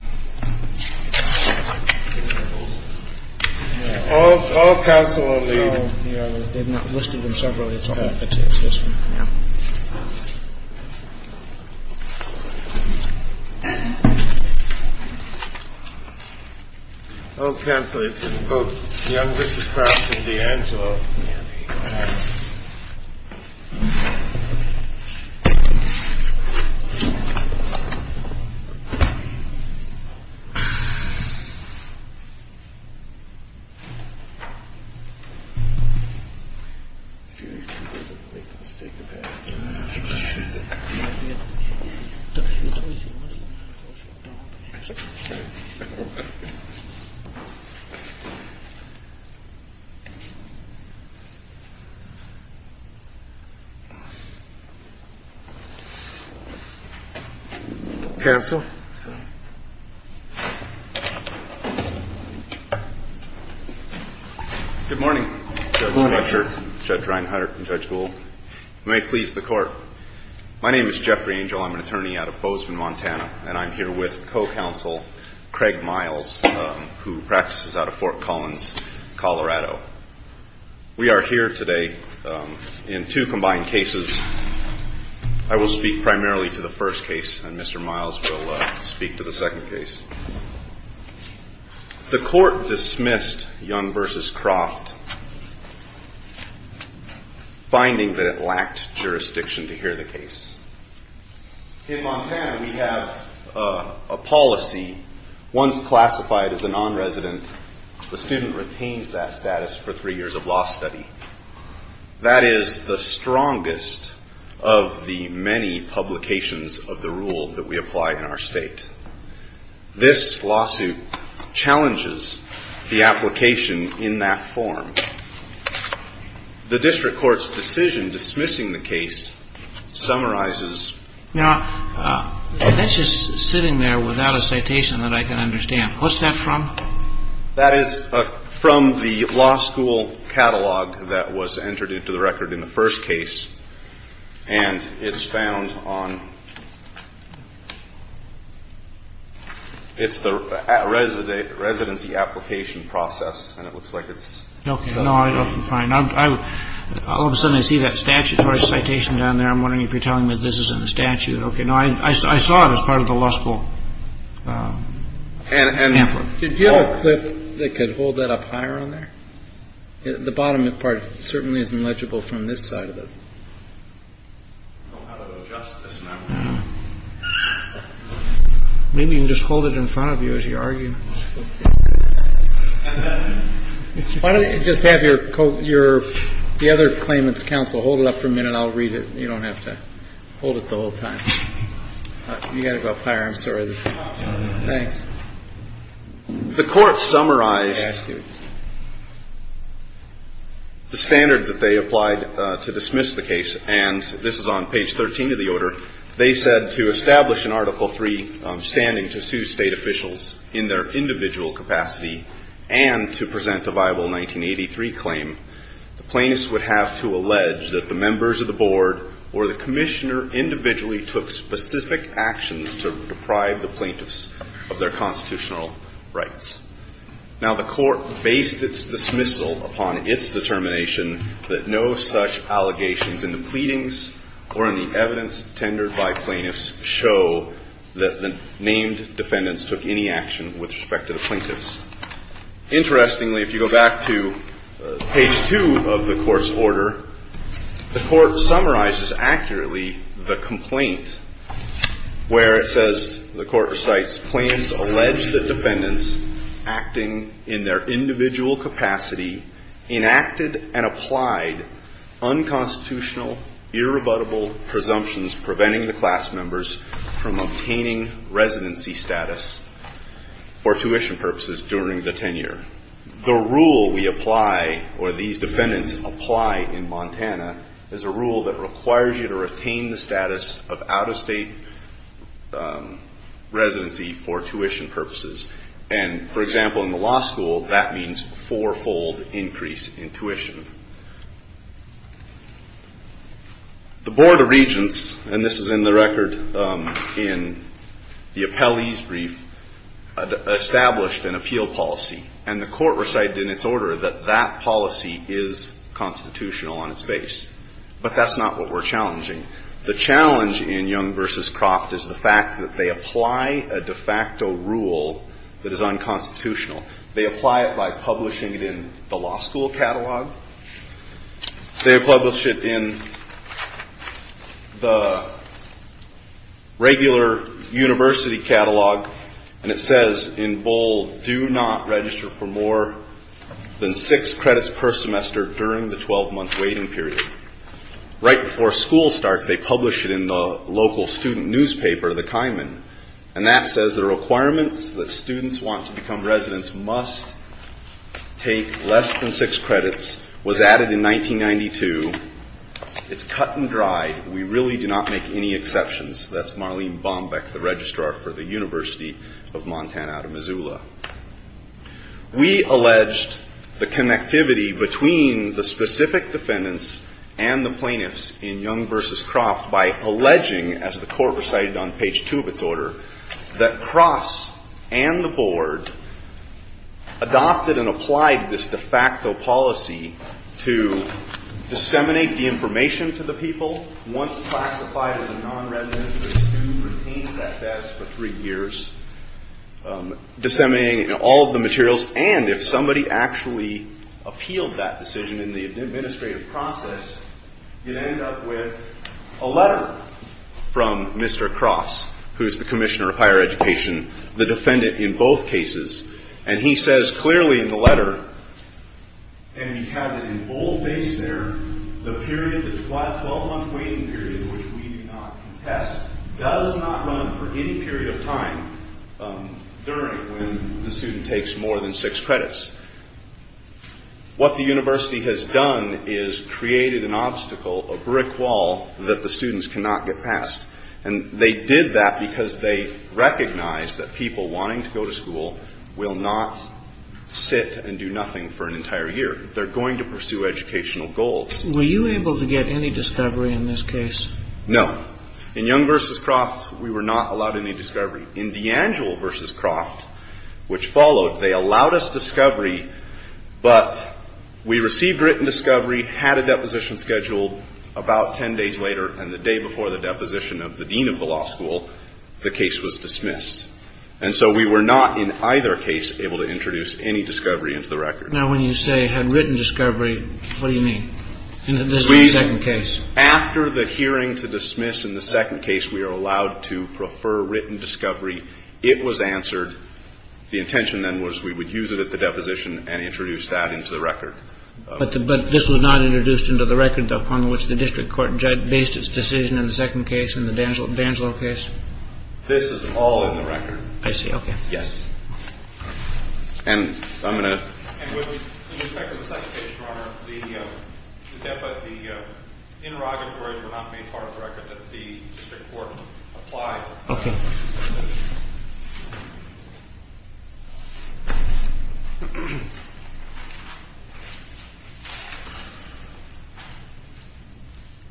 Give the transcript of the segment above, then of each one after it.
Young v. Crofts,02-35811 Crofts,02-35811 Good morning, Judge Fletcher, Judge Reinhardt, and Judge Gould. You may please the court. My name is Jeffrey Angel. I'm an attorney out of Bozeman, Montana, and I'm here with co-counsel Craig Miles, who practices out of Fort Collins, Colorado. We are here today in two combined cases. I will speak primarily to the first case, and Mr. Miles will speak to the second case. The court dismissed Young v. Croft, finding that it lacked jurisdiction to hear the case. In Montana, we have a policy, once classified as a non-resident, the student retains that status for three years of law study. That is the strongest of the many publications of the rule that we apply in our state. This lawsuit challenges the application in that form. The district court's decision dismissing the case summarizes. Now, that's just sitting there without a citation that I can understand. What's that from? That is from the law school catalog that was entered into the record in the first case, and it's found on the residency application process, and it looks like it's... No, I don't find... All of a sudden, I see that citation down there. I'm wondering if you're telling me this isn't a statute. Okay, no, I saw it as part of the law school. And did you have a clip that could hold that up higher on there? The bottom part certainly isn't legible from this side of it. Maybe you can just hold it in front of you as you argue. Why don't you just have the other claimants' counsel hold it up for a minute, and I'll read it. You don't have to hold it the whole time. You've got to go up higher. I'm sorry. Thanks. The court summarized the standard that they applied to dismiss the case, and this is on page 13 of the order. They said to establish an Article III standing to sue state officials in their individual capacity and to present a viable 1983 claim, the plaintiffs would have to allege that the members of the board or the commissioner individually took specific actions to deprive the plaintiffs of their constitutional rights. Now, the court based its dismissal upon its determination that no such allegations in the pleadings or in the evidence tendered by plaintiffs show that the named defendants took any action with respect to the plaintiffs. Interestingly, if you go back to page 2 of the court's order, the court summarizes accurately the complaint where it says, the court recites, Plaintiffs allege that defendants acting in their individual capacity enacted and applied unconstitutional, irrebuttable presumptions preventing the class members from obtaining residency status for tuition purposes during the tenure. The rule we apply, or these defendants apply in Montana, is a rule that requires you to retain the status of out-of-state residency for tuition purposes. And, for example, in the law school, that means four-fold increase in tuition. The Board of Regents, and this is in the record in the appellee's brief, established an appeal policy. And the court recited in its order that that policy is constitutional on its base. But that's not what we're challenging. The challenge in Young v. Croft is the fact that they apply a de facto rule that is unconstitutional. They apply it by publishing it in the law school catalog. They publish it in the regular university catalog. And it says in bold, Do not register for more than six credits per semester during the 12-month waiting period. Right before school starts, they publish it in the local student newspaper, the Kaiman. And that says the requirements that students want to become residents must take less than six credits, was added in 1992. It's cut and dried. We really do not make any exceptions. That's Marlene Bombeck, the registrar for the University of Montana out of Missoula. We alleged the connectivity between the specific defendants and the plaintiffs in Young v. Croft by alleging, as the court recited on page two of its order, that Cross and the board adopted and applied this de facto policy to disseminate the information to the people. Once classified as a nonresident, the student retains that status for three years, disseminating all of the materials. And if somebody actually appealed that decision in the administrative process, you'd end up with a letter from Mr. Cross, who is the commissioner of higher education, the defendant in both cases. And he says clearly in the letter, and he has it in bold base there, the period, the 12-month waiting period, which we do not contest, does not run for any period of time during when the student takes more than six credits. What the university has done is created an obstacle, a brick wall, that the students cannot get past. And they did that because they recognized that people wanting to go to school will not sit and do nothing for an entire year. They're going to pursue educational goals. Were you able to get any discovery in this case? No. In Young v. Croft, we were not allowed any discovery. In DeAngelo v. Croft, which followed, they allowed us discovery, but we received written discovery, had a deposition scheduled about ten days later, and the day before the deposition of the dean of the law school, the case was dismissed. And so we were not in either case able to introduce any discovery into the record. Now, when you say had written discovery, what do you mean? In this second case? After the hearing to dismiss in the second case, we are allowed to prefer written discovery. It was answered. The intention then was we would use it at the deposition and introduce that into the record. But this was not introduced into the record, upon which the district court based its decision in the second case, in the DeAngelo case? This is all in the record. I see. Okay. Yes. And I'm going to... And with respect to the second case, Your Honor, the interrogatories were not made part of the record that the district court applied. Okay.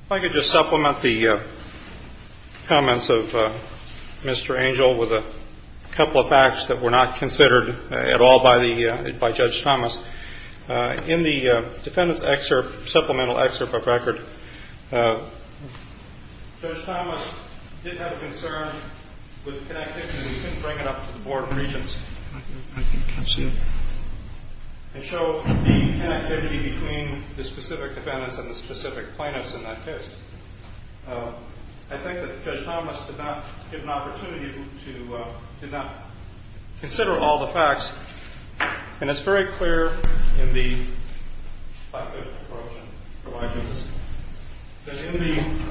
If I could just supplement the comments of Mr. Angel with a couple of facts that were not considered at all by Judge Thomas. In the defendant's excerpt, supplemental excerpt of record, Judge Thomas did have a concern with the connectivity. He couldn't bring it up to the Board of Regents. I can see that. And show the connectivity between the specific defendants and the specific plaintiffs in that case. I think that Judge Thomas did not get an opportunity to consider all the facts. And it's very clear in the lack of approach provided in this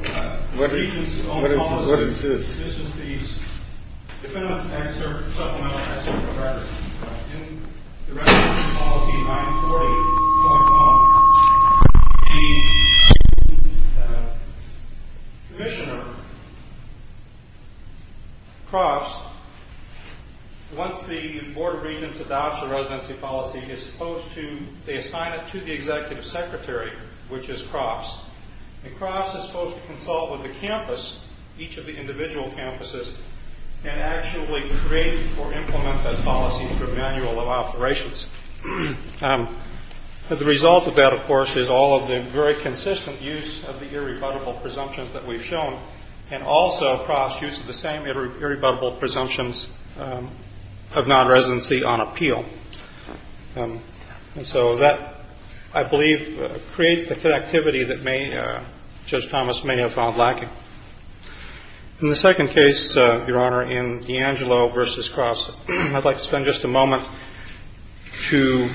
case. What is this? Defendant's excerpt, supplemental excerpt of record. In the residency policy 940.1, the commissioner, Crofts, once the Board of Regents adopts the residency policy, is supposed to assign it to the executive secretary, which is Crofts. And Crofts is supposed to consult with the campus, each of the individual campuses, and actually create or implement that policy through manual of operations. The result of that, of course, is all of the very consistent use of the irrebuttable presumptions that we've shown. And also, Crofts uses the same irrebuttable presumptions of non-residency on appeal. And so that, I believe, creates the connectivity that Judge Thomas may have found lacking. In the second case, Your Honor, in D'Angelo v. Crofts, I'd like to spend just a moment to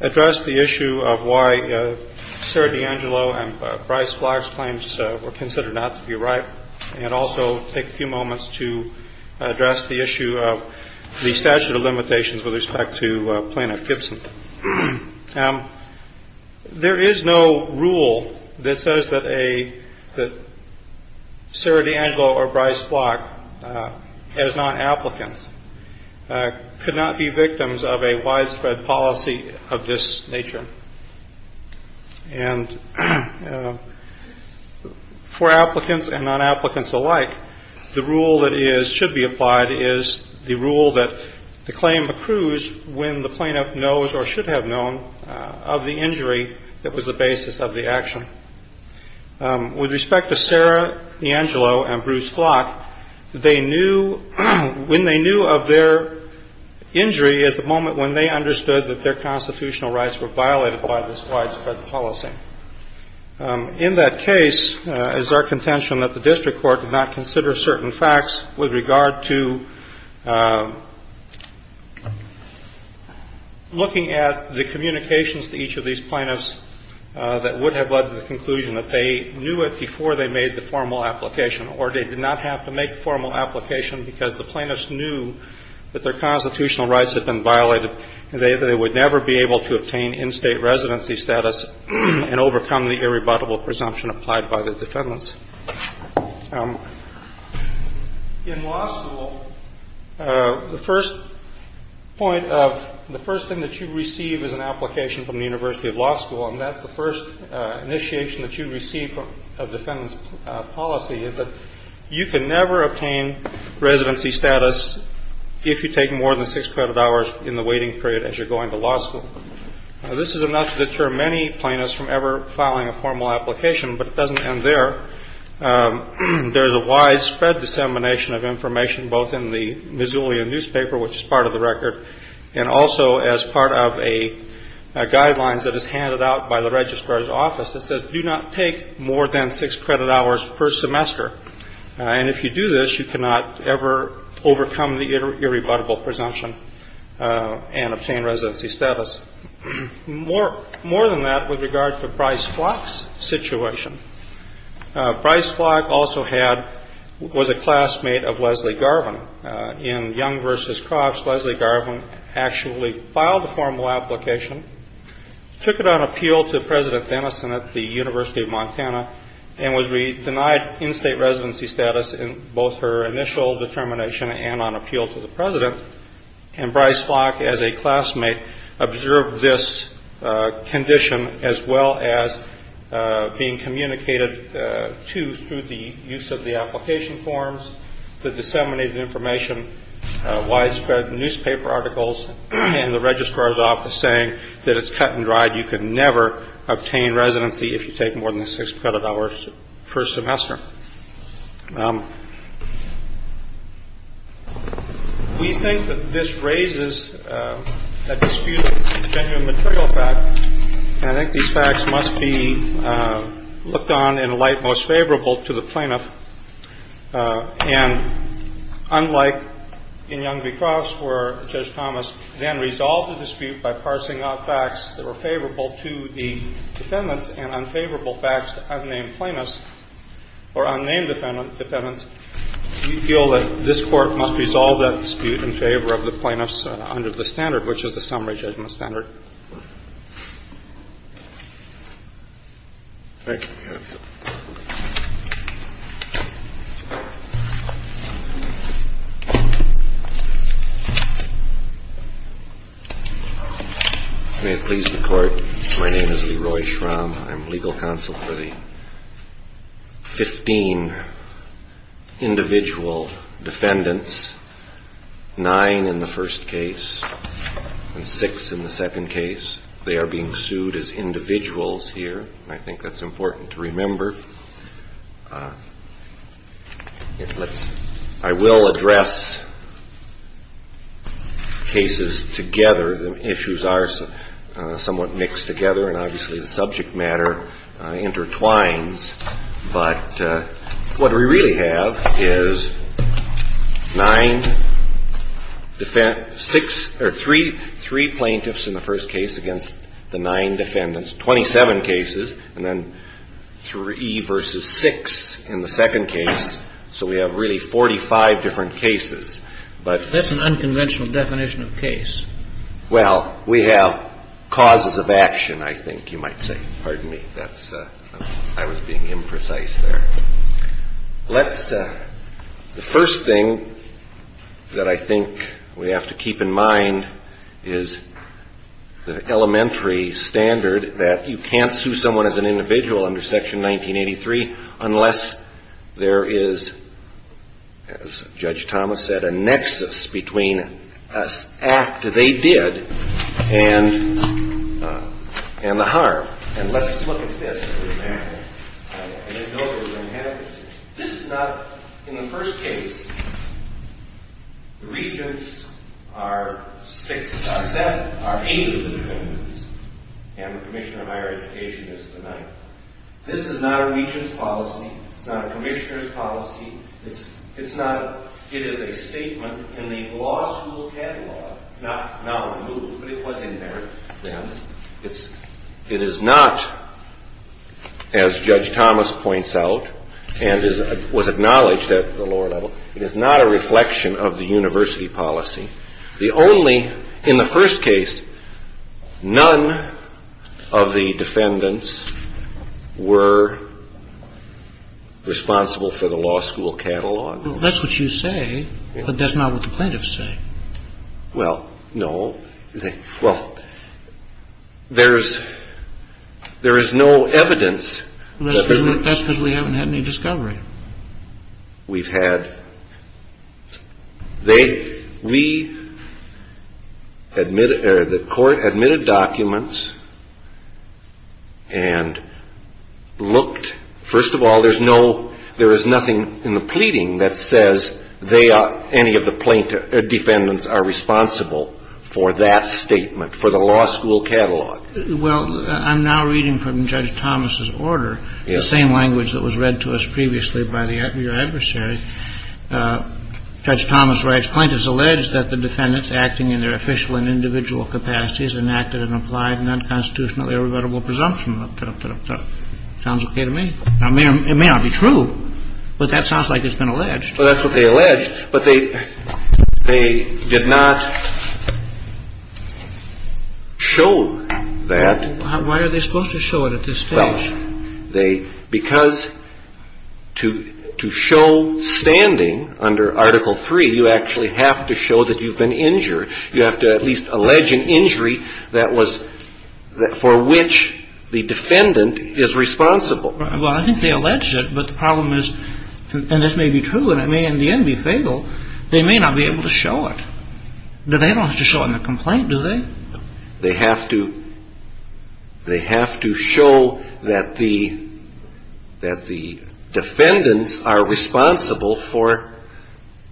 address the issue of why Sarah D'Angelo and Bryce Flock's claims were considered not to be right, and also take a few moments to address the issue of the statute of limitations with respect to Plano-Gibson. There is no rule that says that Sarah D'Angelo or Bryce Flock, as non-applicants, could not be victims of a widespread policy of this nature. And for applicants and non-applicants alike, the rule that should be applied is the rule that the claim accrues when the plaintiff knows or should have known of the injury that was the basis of the action. With respect to Sarah D'Angelo and Bruce Flock, when they knew of their injury is the moment when they understood that their constitutional rights were violated by this widespread policy. In that case, it is our contention that the district court did not consider certain facts with regard to looking at the communications to each of these plaintiffs that would have led to the conclusion that they knew it before they made the formal application, or they did not have to make the formal application because the plaintiffs knew that their constitutional rights had been violated. They would never be able to obtain in-state residency status and overcome the irrebuttable presumption applied by the defendants. In law school, the first point of the first thing that you receive is an application from the University of Law School, and that's the first initiation that you receive of defendant's policy is that you can never obtain residency status if you take more than six credit hours in the waiting period as you're going to law school. This is enough to deter many plaintiffs from ever filing a formal application, but it doesn't end there. There is a widespread dissemination of information both in the Missoulian newspaper, which is part of the record, and also as part of guidelines that is handed out by the registrar's office that says do not take more than six credit hours per semester, and if you do this, you cannot ever overcome the irrebuttable presumption and obtain residency status. More than that, with regard to Bryce Flock's situation, Bryce Flock also was a classmate of Leslie Garvin. In Young v. Crofts, Leslie Garvin actually filed a formal application, took it on appeal to President Denison at the University of Montana, and was denied in-state residency status in both her initial determination and on appeal to the president, and Bryce Flock as a classmate observed this condition as well as being communicated to through the use of the application forms, the disseminated information, widespread newspaper articles, and the registrar's office saying that it's cut and dried, you can never obtain residency if you take more than six credit hours per semester. We think that this raises a dispute with the genuine material fact, and I think these facts must be looked on in a light most favorable to the plaintiff. And unlike in Young v. Crofts where Judge Thomas then resolved the dispute by parsing out facts that were favorable to the defendants and unfavorable facts to unnamed plaintiffs or unnamed defendants, do you feel that this Court must resolve that dispute in favor of the plaintiffs under the standard, which is the summary judgment standard? Thank you, counsel. May it please the Court, my name is Leroy Schramm. I'm legal counsel for the 15 individual defendants, nine in the first case and six in the second case. They are being sued as individuals here. I think that's important to remember. I will address cases together. The issues are somewhat mixed together and obviously the subject matter intertwines, but what we really have is three plaintiffs in the first case against the nine defendants, 27 cases, and then three versus six in the second case, so we have really 45 different cases. That's an unconventional definition of case. Well, we have causes of action, I think you might say. Pardon me, I was being imprecise there. The first thing that I think we have to keep in mind is the elementary standard that you can't sue someone as an individual under Section 1983 unless there is, as Judge Thomas said, a nexus between an act they did and the harm. And let's look at this for example. This is not, in the first case, the regents are eight of the defendants and the commissioner of higher education is the ninth. This is not a regent's policy. It's not a commissioner's policy. It is a statement in the law school catalog, not now removed, but it was in there then. It is not, as Judge Thomas points out and was acknowledged at the lower level, it is not a reflection of the university policy. The only, in the first case, none of the defendants were responsible for the law school catalog. That's what you say, but that's not what the plaintiffs say. Well, no. Well, there is no evidence. That's because we haven't had any discovery. We've had. The court admitted documents and looked. First of all, there is nothing in the pleading that says any of the defendants are responsible for that statement, for the law school catalog. Well, I'm now reading from Judge Thomas' order, the same language that was read to us previously by your adversary. Judge Thomas writes, Well, that's what they allege, but they did not show that. Why are they supposed to show it at this stage? Because to show standing under Article III, you actually have to show that you've been injured. You have to at least allege an injury for which the defendant is responsible. Well, I think they allege it, but the problem is, and this may be true and it may in the end be fatal, they may not be able to show it. They don't have to show it in the complaint, do they? They have to show that the defendants are responsible for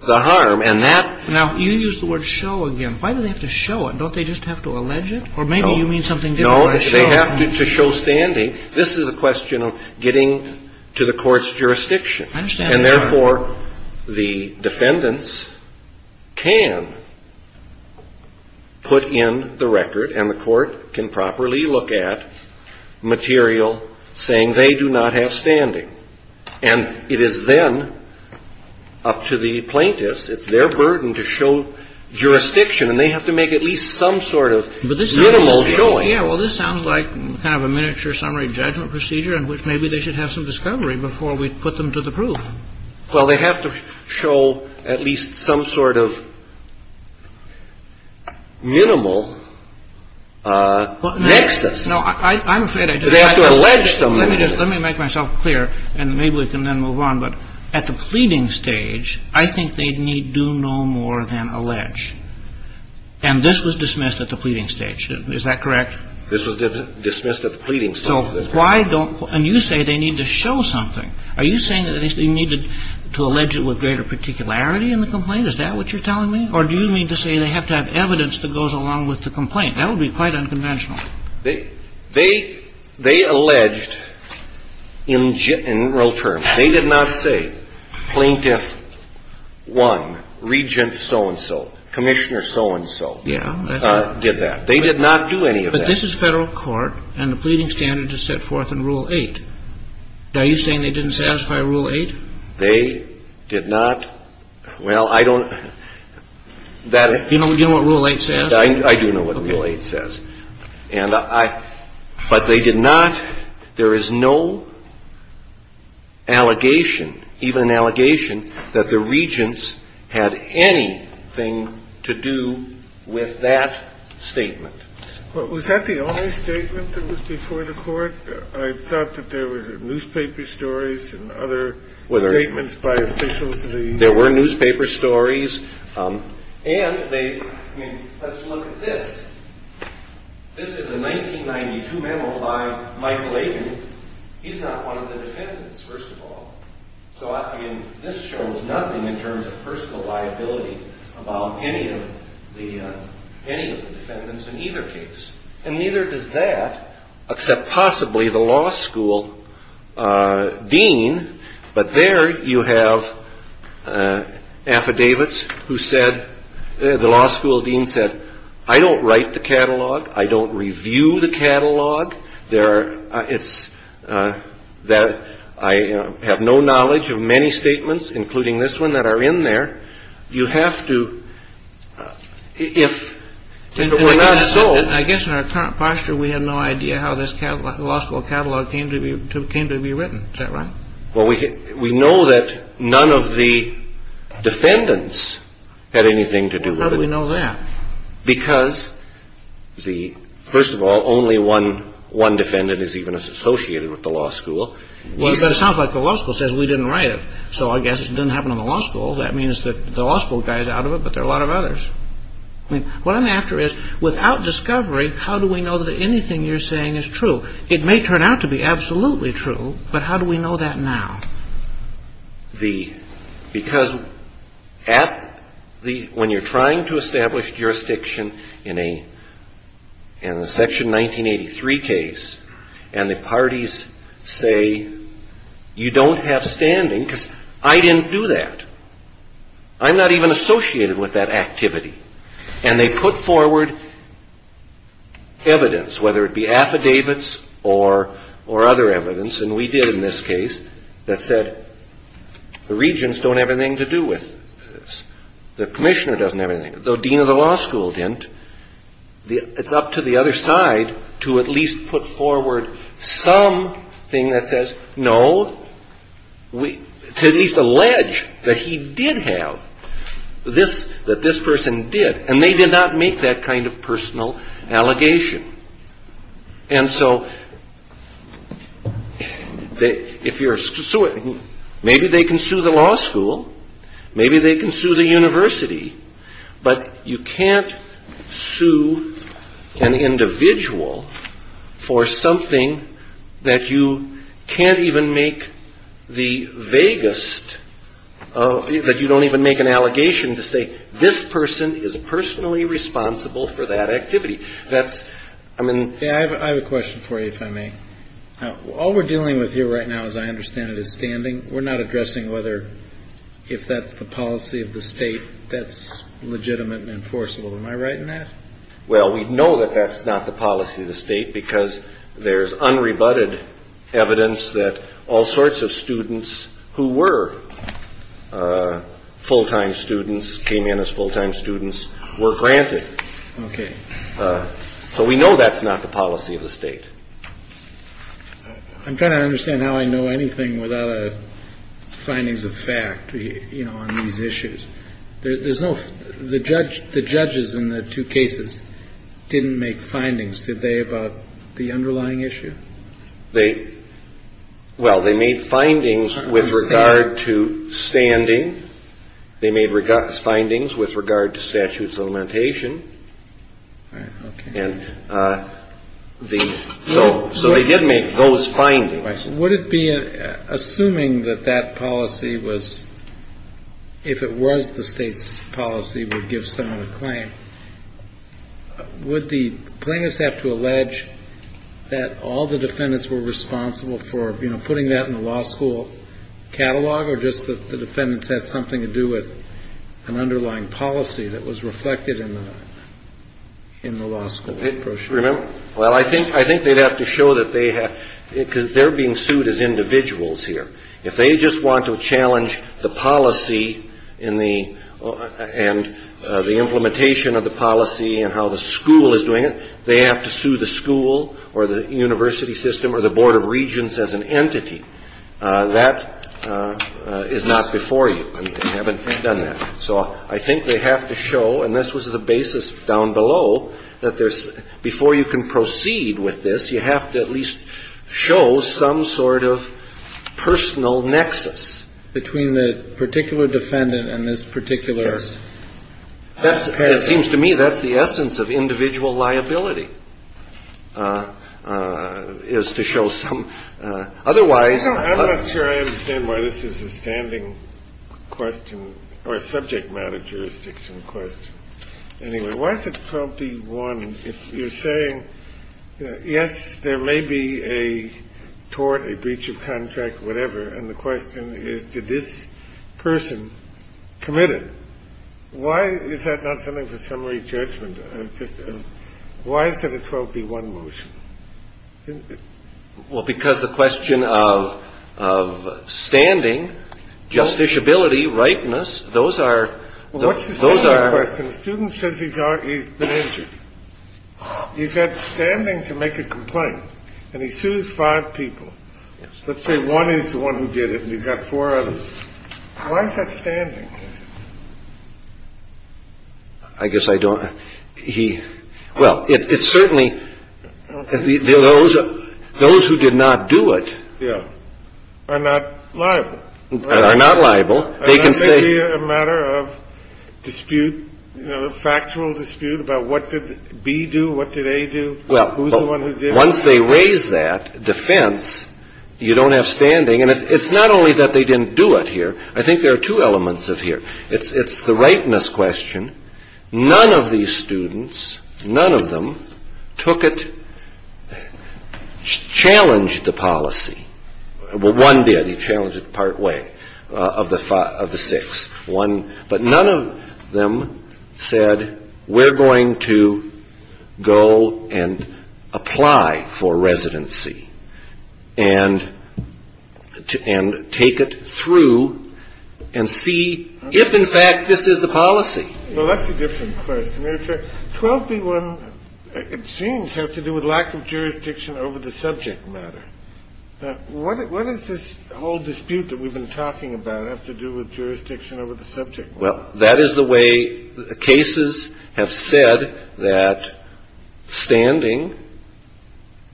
the harm. Now, you use the word show again. Why do they have to show it? Don't they just have to allege it? Or maybe you mean something different. No, they have to show standing. This is a question of getting to the court's jurisdiction. And therefore, the defendants can put in the record and the court can properly look at material saying they do not have standing. And it is then up to the plaintiffs. It's their burden to show jurisdiction, and they have to make at least some sort of minimal showing. Yeah, well, this sounds like kind of a miniature summary judgment procedure in which maybe they should have some discovery before we put them to the proof. Well, they have to show at least some sort of minimal nexus. No, I'm afraid. They have to allege something. Let me make myself clear, and maybe we can then move on. But at the pleading stage, I think they need do no more than allege. And this was dismissed at the pleading stage. Is that correct? This was dismissed at the pleading stage. So why don't you say they need to show something? Are you saying that they need to allege it with greater particularity in the complaint? Is that what you're telling me? Or do you mean to say they have to have evidence that goes along with the complaint? That would be quite unconventional. They alleged in general terms. They did not say plaintiff one, regent so-and-so, commissioner so-and-so did that. They did not do any of that. But this is federal court, and the pleading standard is set forth in Rule 8. Are you saying they didn't satisfy Rule 8? They did not. Well, I don't. Do you know what Rule 8 says? I do know what Rule 8 says. But they did not. There is no allegation, even an allegation, that the regents had anything to do with that statement. Was that the only statement that was before the court? I thought that there were newspaper stories and other statements by officials. There were newspaper stories. And let's look at this. This is a 1992 memo by Michael Aitken. He's not one of the defendants, first of all. So this shows nothing in terms of personal liability about any of the defendants in either case. And neither does that, except possibly the law school dean. But there you have affidavits who said, the law school dean said, I don't write the catalog. I don't review the catalog. It's that I have no knowledge of many statements, including this one, that are in there. You have to, if it were not so. I guess in our current posture, we have no idea how this law school catalog came to be written. Is that right? Well, we know that none of the defendants had anything to do with it. How do we know that? Because, first of all, only one defendant is even associated with the law school. But it sounds like the law school says we didn't write it. So I guess it didn't happen in the law school. That means that the law school guys are out of it, but there are a lot of others. I mean, what I'm after is, without discovery, how do we know that anything you're saying is true? It may turn out to be absolutely true, but how do we know that now? Because when you're trying to establish jurisdiction in a Section 1983 case and the parties say, you don't have standing because I didn't do that. I'm not even associated with that activity. And they put forward evidence, whether it be affidavits or other evidence, and we did in this case, that said the regents don't have anything to do with this, the commissioner doesn't have anything, though dean of the law school didn't. It's up to the other side to at least put forward something that says, no, to at least allege that he did have this, that this person did, and they did not make that kind of personal allegation. And so if you're suing, maybe they can sue the law school, maybe they can sue the university, but you can't sue an individual for something that you can't even make the vaguest of, that you don't even make an allegation to say, this person is personally responsible for that activity. I have a question for you, if I may. All we're dealing with here right now, as I understand it, is standing. We're not addressing whether, if that's the policy of the state, that's legitimate and enforceable. Am I right in that? Well, we know that that's not the policy of the state, because there's unrebutted evidence that all sorts of students who were full-time students, came in as full-time students, were granted. Okay. So we know that's not the policy of the state. I'm trying to understand how I know anything without findings of fact, you know, on these issues. There's no, the judge, the judges in the two cases didn't make findings, did they, about the underlying issue? They, well, they made findings with regard to standing. They made findings with regard to statute of supplementation. All right, okay. And so they did make those findings. Would it be, assuming that that policy was, if it was the state's policy, would give someone a claim, would the plaintiffs have to allege that all the defendants were responsible for, you know, putting that in the law school catalog, or just that the defendants had something to do with an underlying policy that was reflected in the law school brochure? Well, I think they'd have to show that they have, because they're being sued as individuals here. If they just want to challenge the policy and the implementation of the policy and how the school is doing it, they have to sue the school or the university system or the board of regents as an entity. That is not before you. They haven't done that. So I think they have to show, and this was the basis down below, that there's, before you can proceed with this, you have to at least show some sort of personal nexus. Between the particular defendant and this particular parent. It seems to me that's the essence of individual liability, is to show some. Otherwise. I'm not sure I understand why this is a standing question or a subject matter jurisdiction question. Anyway, why is it 12B1 if you're saying, yes, there may be a tort, a breach of contract, whatever. And the question is, did this person commit it? Why is that not something for summary judgment? Why is it a 12B1 motion? Well, because the question of standing, justiciability, rightness. Those are. Those are questions. Student says he's been injured. He's got standing to make a complaint. And he sues five people. Let's say one is the one who did it. He's got four others. Why is that standing? I guess I don't. Well, it's certainly. Those who did not do it. Yeah. Are not liable. Are not liable. They can say. A matter of dispute. Factual dispute about what did B do? What did A do? Well, once they raise that defense, you don't have standing. And it's not only that they didn't do it here. I think there are two elements of here. It's the rightness question. None of these students. None of them took it. Challenged the policy. Well, one did. He challenged it partway. Of the five. Of the six. One. But none of them said. We're going to go and apply for residency. And. And take it through. And see. If in fact this is the policy. Well, that's a different question. 12B1. It seems has to do with lack of jurisdiction over the subject matter. What is this whole dispute that we've been talking about have to do with jurisdiction over the subject matter? Well, that is the way the cases have said that. Standing.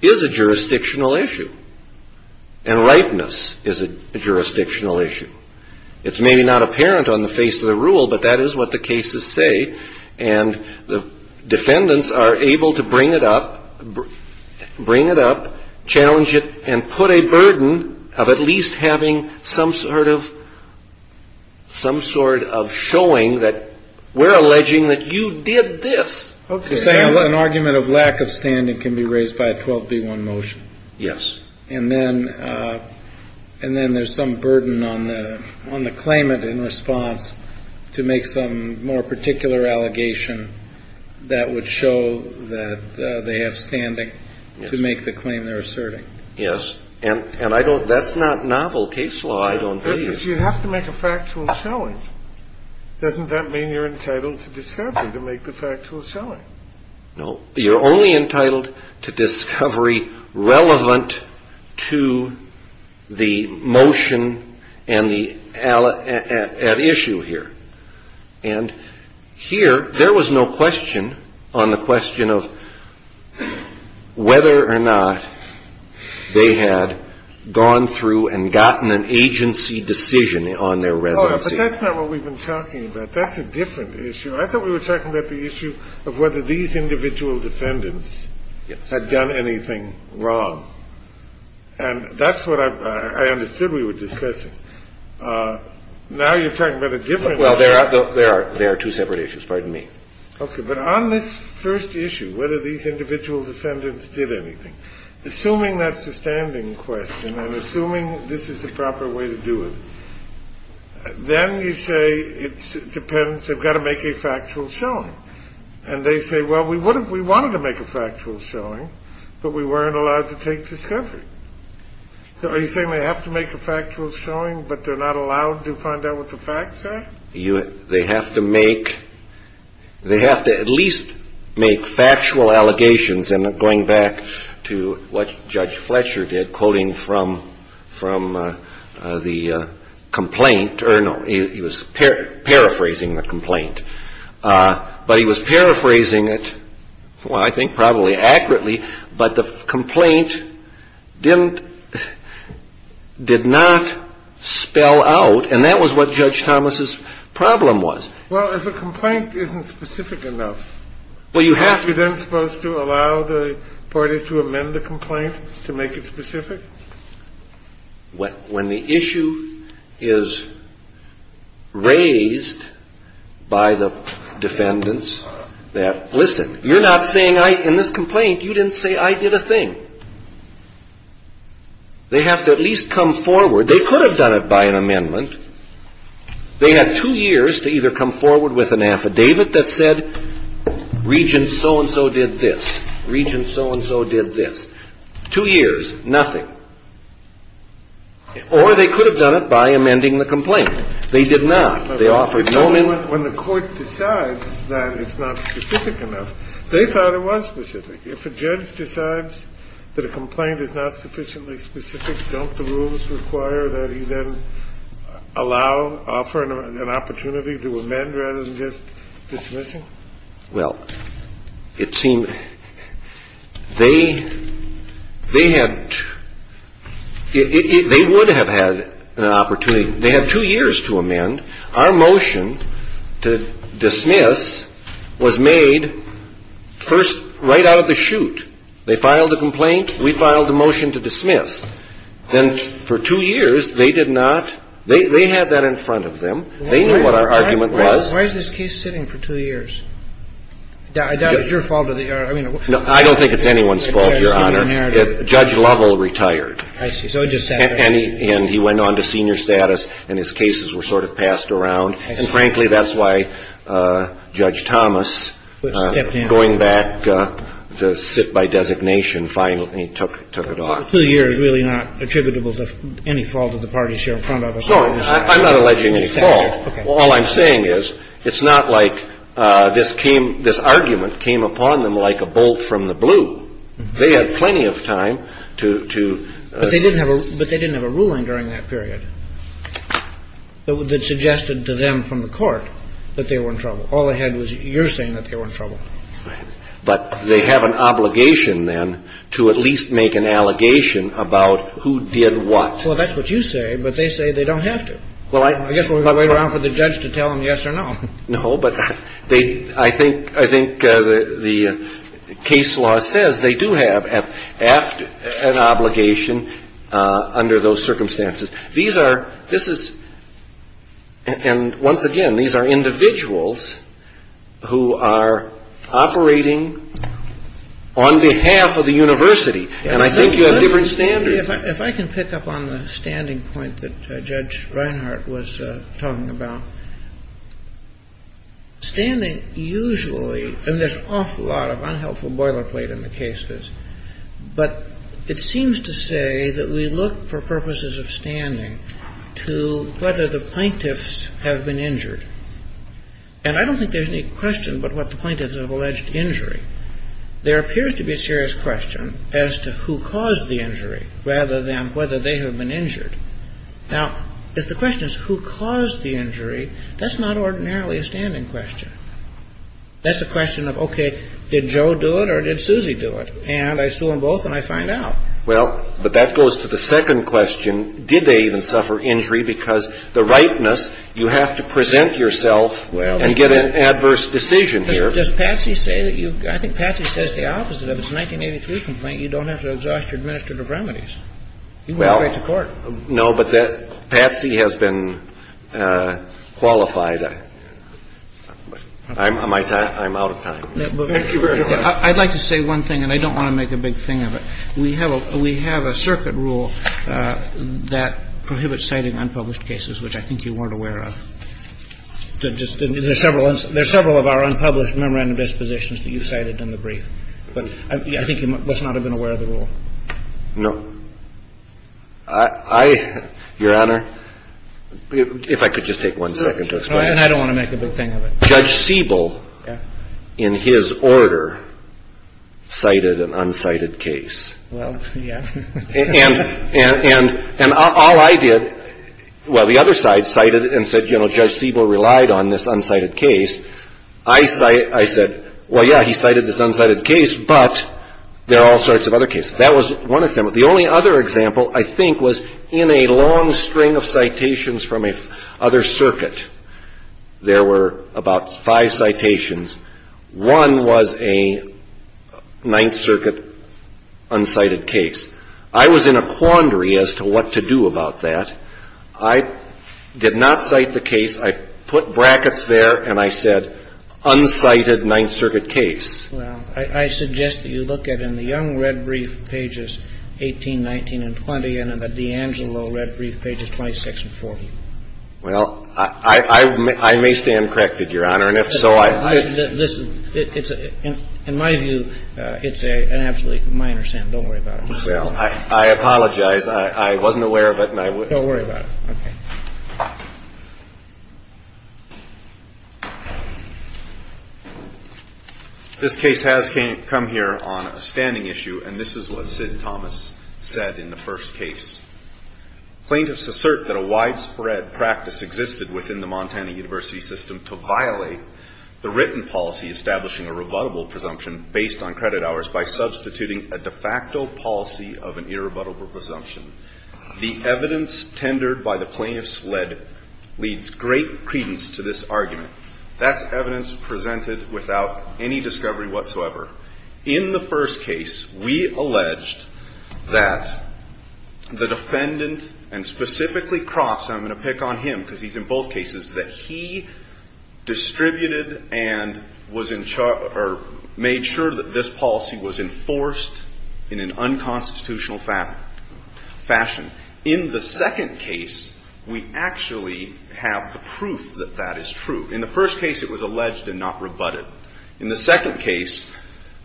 Is a jurisdictional issue. And rightness is a jurisdictional issue. It's maybe not apparent on the face of the rule, but that is what the cases say. And the defendants are able to bring it up. Bring it up. Challenge it. And put a burden. Of at least having some sort of. Some sort of showing that we're alleging that you did this. Okay. An argument of lack of standing can be raised by a 12B1 motion. Yes. And then and then there's some burden on the on the claimant in response to make some more particular allegation. That would show that they have standing to make the claim they're asserting. Yes. And and I don't that's not novel case law. I don't. You have to make a factual showing. Doesn't that mean you're entitled to discover to make the factual showing? No, you're only entitled to discovery relevant to the motion and the issue here. And here there was no question on the question of whether or not they had gone through and gotten an agency decision on their residency. That's not what we've been talking about. That's a different issue. I thought we were talking about the issue of whether these individual defendants had done anything wrong. And that's what I understood we were discussing. Now you're talking about a different. Well, there are. There are. There are two separate issues. Pardon me. Okay. But on this first issue, whether these individual defendants did anything, assuming that's a standing question and assuming this is the proper way to do it. Then you say it depends. I've got to make a factual showing. And they say, well, we wouldn't. We wanted to make a factual showing, but we weren't allowed to take discovery. Are you saying they have to make a factual showing, but they're not allowed to find out what the facts are? You they have to make they have to at least make factual allegations. And going back to what Judge Fletcher did, quoting from from the complaint or no, he was paraphrasing the complaint, but he was paraphrasing it. Well, I think probably accurately, but the complaint didn't did not spell out. And that was what Judge Thomas's problem was. Well, if a complaint isn't specific enough. Well, you have to then supposed to allow the parties to amend the complaint to make it specific. What when the issue is raised by the defendants that listen, you're not saying I in this complaint, you didn't say I did a thing. They have to at least come forward. They could have done it by an amendment. They had two years to either come forward with an affidavit that said, Regent so-and-so did this. Regent so-and-so did this. Two years. Nothing. Or they could have done it by amending the complaint. They did not. They offered no amendment. When the court decides that it's not specific enough, they thought it was specific. If a judge decides that a complaint is not sufficiently specific, don't the rules require that he then allow, offer an opportunity to amend rather than just dismissing? Well, it seemed they they had they would have had an opportunity. They had two years to amend. Our motion to dismiss was made first right out of the chute. They filed a complaint. We filed a motion to dismiss. Then for two years, they did not. They had that in front of them. They knew what our argument was. Why is this case sitting for two years? I doubt it's your fault. I don't think it's anyone's fault, Your Honor. Judge Lovell retired. I see. And he went on to senior status, and his cases were sort of passed around. And frankly, that's why Judge Thomas, going back to sit by designation, finally took it off. So two years is really not attributable to any fault of the parties here in front of us? No, I'm not alleging any fault. All I'm saying is it's not like this came this argument came upon them like a bolt from the blue. They had plenty of time to ---- But they didn't have a ruling during that period that suggested to them from the court that they were in trouble. All they had was your saying that they were in trouble. But they have an obligation, then, to at least make an allegation about who did what. Well, that's what you say, but they say they don't have to. I guess we'll wait around for the judge to tell them yes or no. No, but they ---- I think the case law says they do have an obligation under those circumstances. These are ---- this is ---- and once again, these are individuals who are operating on behalf of the university. And I think you have different standards. If I can pick up on the standing point that Judge Reinhart was talking about, standing usually ---- I mean, there's an awful lot of unhelpful boilerplate in the cases, but it seems to say that we look for purposes of standing to whether the plaintiffs have been injured. And I don't think there's any question but what the plaintiffs have alleged injury. There appears to be a serious question as to who caused the injury rather than whether they have been injured. Now, if the question is who caused the injury, that's not ordinarily a standing question. That's a question of, okay, did Joe do it or did Susie do it? And I sue them both and I find out. Well, but that goes to the second question. Did they even suffer injury? Because the rightness, you have to present yourself and get an adverse decision here. But does Patsy say that you ---- I think Patsy says the opposite of it. It's a 1983 complaint. You don't have to exhaust your administrative remedies. You can go straight to court. No, but Patsy has been qualified. I'm out of time. Thank you very much. I'd like to say one thing, and I don't want to make a big thing of it. We have a circuit rule that prohibits citing unpublished cases, which I think you weren't aware of. There are several of our unpublished memorandum dispositions that you cited in the brief. But I think you must not have been aware of the rule. No. Your Honor, if I could just take one second to explain. I don't want to make a big thing of it. Judge Siebel, in his order, cited an unsighted case. Well, yeah. And all I did ---- well, the other side cited and said, you know, Judge Siebel relied on this unsighted case. I said, well, yeah, he cited this unsighted case, but there are all sorts of other cases. That was one example. The only other example, I think, was in a long string of citations from a other circuit. There were about five citations. One was a Ninth Circuit unsighted case. I was in a quandary as to what to do about that. I did not cite the case. I put brackets there, and I said, unsighted Ninth Circuit case. Well, I suggest that you look at in the Young red brief pages 18, 19, and 20, and in the DeAngelo red brief pages 26 and 40. Well, I may stand corrected, Your Honor. And if so, I ---- Listen. In my view, it's an absolutely minor sin. Don't worry about it. Well, I apologize. I wasn't aware of it, and I would ---- Don't worry about it. Okay. This case has come here on a standing issue, and this is what Sid Thomas said in the first case. Plaintiffs assert that a widespread practice existed within the Montana University system to violate the written policy establishing a rebuttable presumption based on credit hours by substituting a de facto policy of an irrebuttable presumption. The evidence tendered by the plaintiffs led leads great credence to this argument. That's evidence presented without any discovery whatsoever. In the first case, we alleged that the defendant, and specifically Croft, so I'm going to pick on him because he's in both cases, that he distributed and was in charge or made sure that this policy was enforced in an unconstitutional fashion. In the second case, we actually have the proof that that is true. In the first case, it was alleged and not rebutted. In the second case,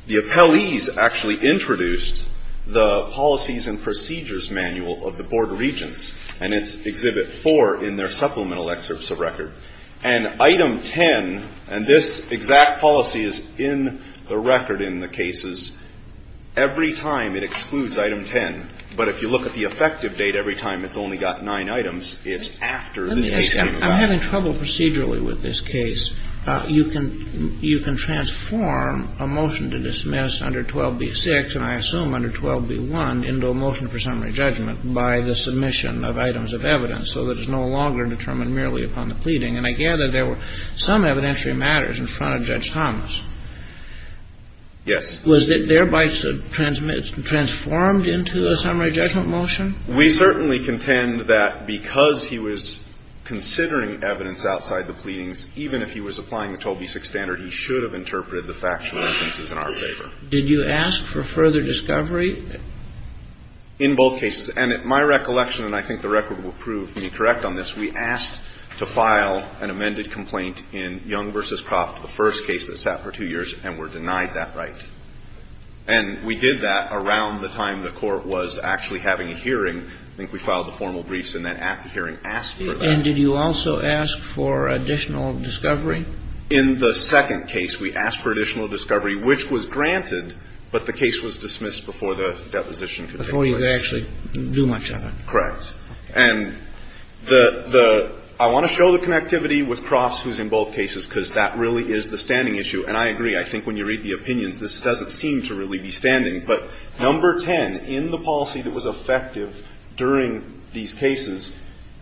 the appellees actually introduced the policies and procedures manual of the Board of Regents, and it's Exhibit 4 in their supplemental excerpts of record. And Item 10, and this exact policy is in the record in the cases, every time it excludes Item 10. But if you look at the effective date, every time it's only got nine items, it's after this case came about. I'm having trouble procedurally with this case. You can transform a motion to dismiss under 12b-6, and I assume under 12b-1, into a motion for summary judgment by the submission of items of evidence, so that it's no longer determined merely upon the pleading. And I gather there were some evidentiary matters in front of Judge Thomas. Yes. Was it thereby transformed into a summary judgment motion? We certainly contend that because he was considering evidence outside the pleadings, even if he was applying the 12b-6 standard, he should have interpreted the factual evidences in our favor. Did you ask for further discovery? In both cases. And at my recollection, and I think the record will prove me correct on this, we asked to file an amended complaint in Young v. Croft, the first case that sat for two years, and were denied that right. And we did that around the time the Court was actually having a hearing. I think we filed the formal briefs and then at the hearing asked for that. And did you also ask for additional discovery? In the second case, we asked for additional discovery, which was granted, but the case was dismissed before the deposition could take place. Before you could actually do much of it. Correct. And the – I want to show the connectivity with Croft's, who's in both cases, because that really is the standing issue. And I agree. I think when you read the opinions, this doesn't seem to really be standing. But number 10, in the policy that was effective during these cases,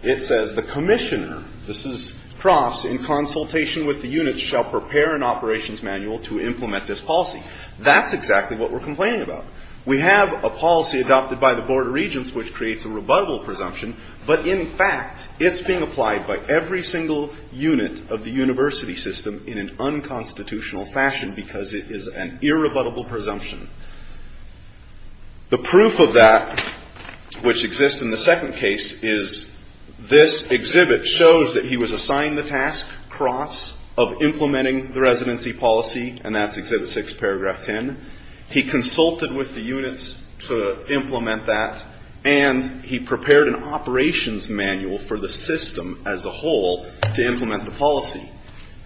it says, the commissioner – this is Croft's – in consultation with the units shall prepare an operations manual to implement this policy. That's exactly what we're complaining about. We have a policy adopted by the Board of Regents which creates a rebuttable presumption, but in fact, it's being applied by every single unit of the university system in an unconstitutional fashion because it is an irrebuttable presumption. The proof of that, which exists in the second case, is this exhibit shows that he was assigned the task, Croft's, of implementing the residency policy, and that's exhibit 6, paragraph 10. He consulted with the units to implement that, and he prepared an operations manual for the system as a whole to implement the policy.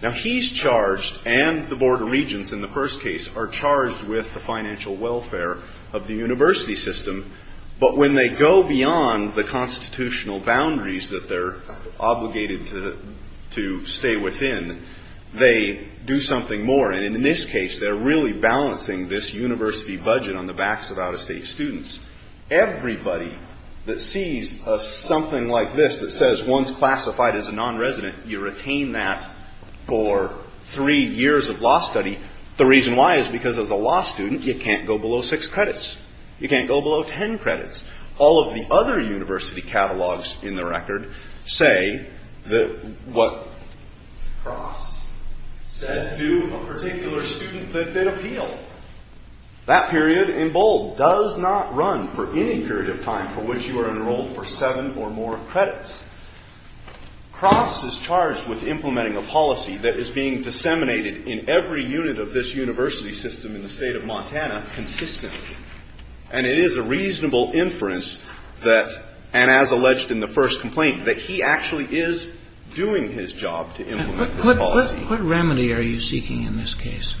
Now he's charged, and the Board of Regents in the first case, are charged with the financial welfare of the university system, but when they go beyond the constitutional boundaries that they're obligated to stay within, they do something more. And in this case, they're really balancing this university budget on the backs of out-of-state students. Everybody that sees something like this that says one's classified as a non-resident, you retain that for three years of law study. The reason why is because as a law student, you can't go below six credits. You can't go below ten credits. All of the other university catalogs in the record say that what Croft said to a particular student that did appeal. That period, in bold, does not run for any period of time for which you are enrolled for seven or more credits. Croft is charged with implementing a policy that is being disseminated in every unit of this university system in the state of Montana consistently, and it is a reasonable inference that, and as alleged in the first complaint, that he actually is doing his job to implement the policy. What remedy are you seeking in this case?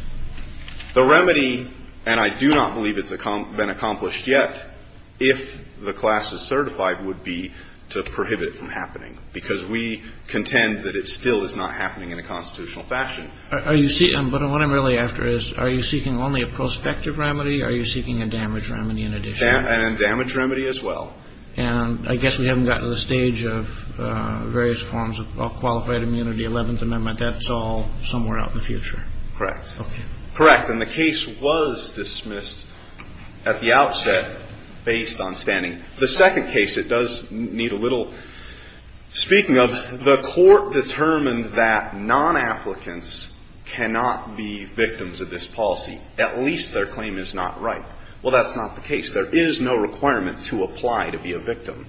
The remedy, and I do not believe it's been accomplished yet, if the class is certified, would be to prohibit it from happening because we contend that it still is not happening in a constitutional fashion. But what I'm really after is are you seeking only a prospective remedy or are you seeking a damage remedy in addition? And a damage remedy as well. And I guess we haven't gotten to the stage of various forms of qualified immunity, Eleventh Amendment. That's all somewhere out in the future. Correct. Okay. Correct. And the case was dismissed at the outset based on standing. The second case, it does need a little speaking of. The court determined that non-applicants cannot be victims of this policy. At least their claim is not right. Well, that's not the case. There is no requirement to apply to be a victim.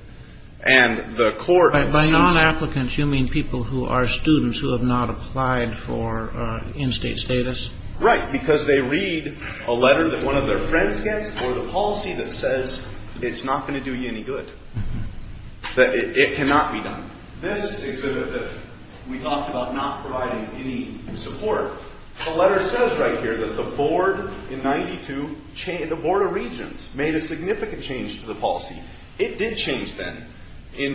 And the court has seen that. By non-applicants, you mean people who are students who have not applied for in-state status? Right, because they read a letter that one of their friends gets or the policy that says it's not going to do you any good, that it cannot be done. This exhibit that we talked about not providing any support, the letter says right here that the board in 92, the Board of Regents made a significant change to the policy. It did change then. In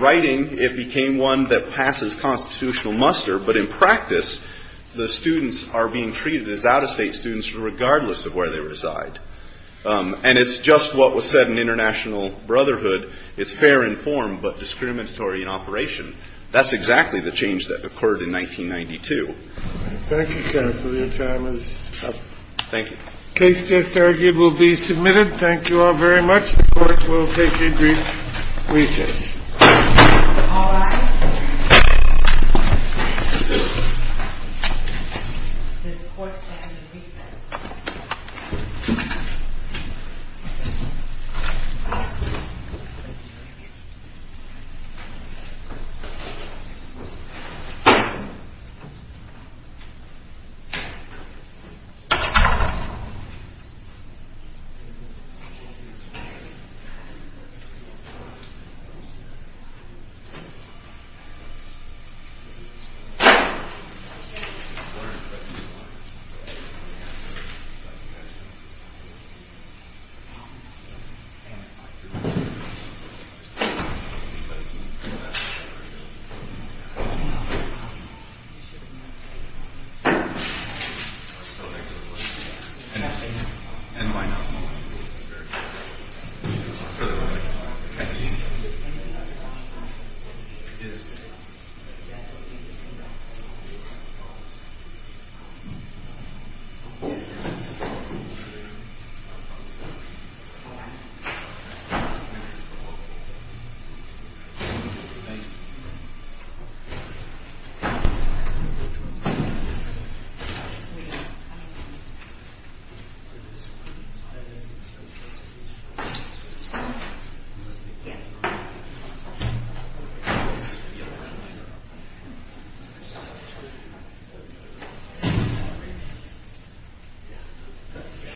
writing, it became one that passes constitutional muster. But in practice, the students are being treated as out-of-state students regardless of where they reside. And it's just what was said in International Brotherhood. It's fair in form but discriminatory in operation. That's exactly the change that occurred in 1992. Thank you, counsel. Your time is up. Thank you. The case, just argued, will be submitted. Thank you all very much. The court will take a brief recess. All rise. Thank you. Thank you. Yes.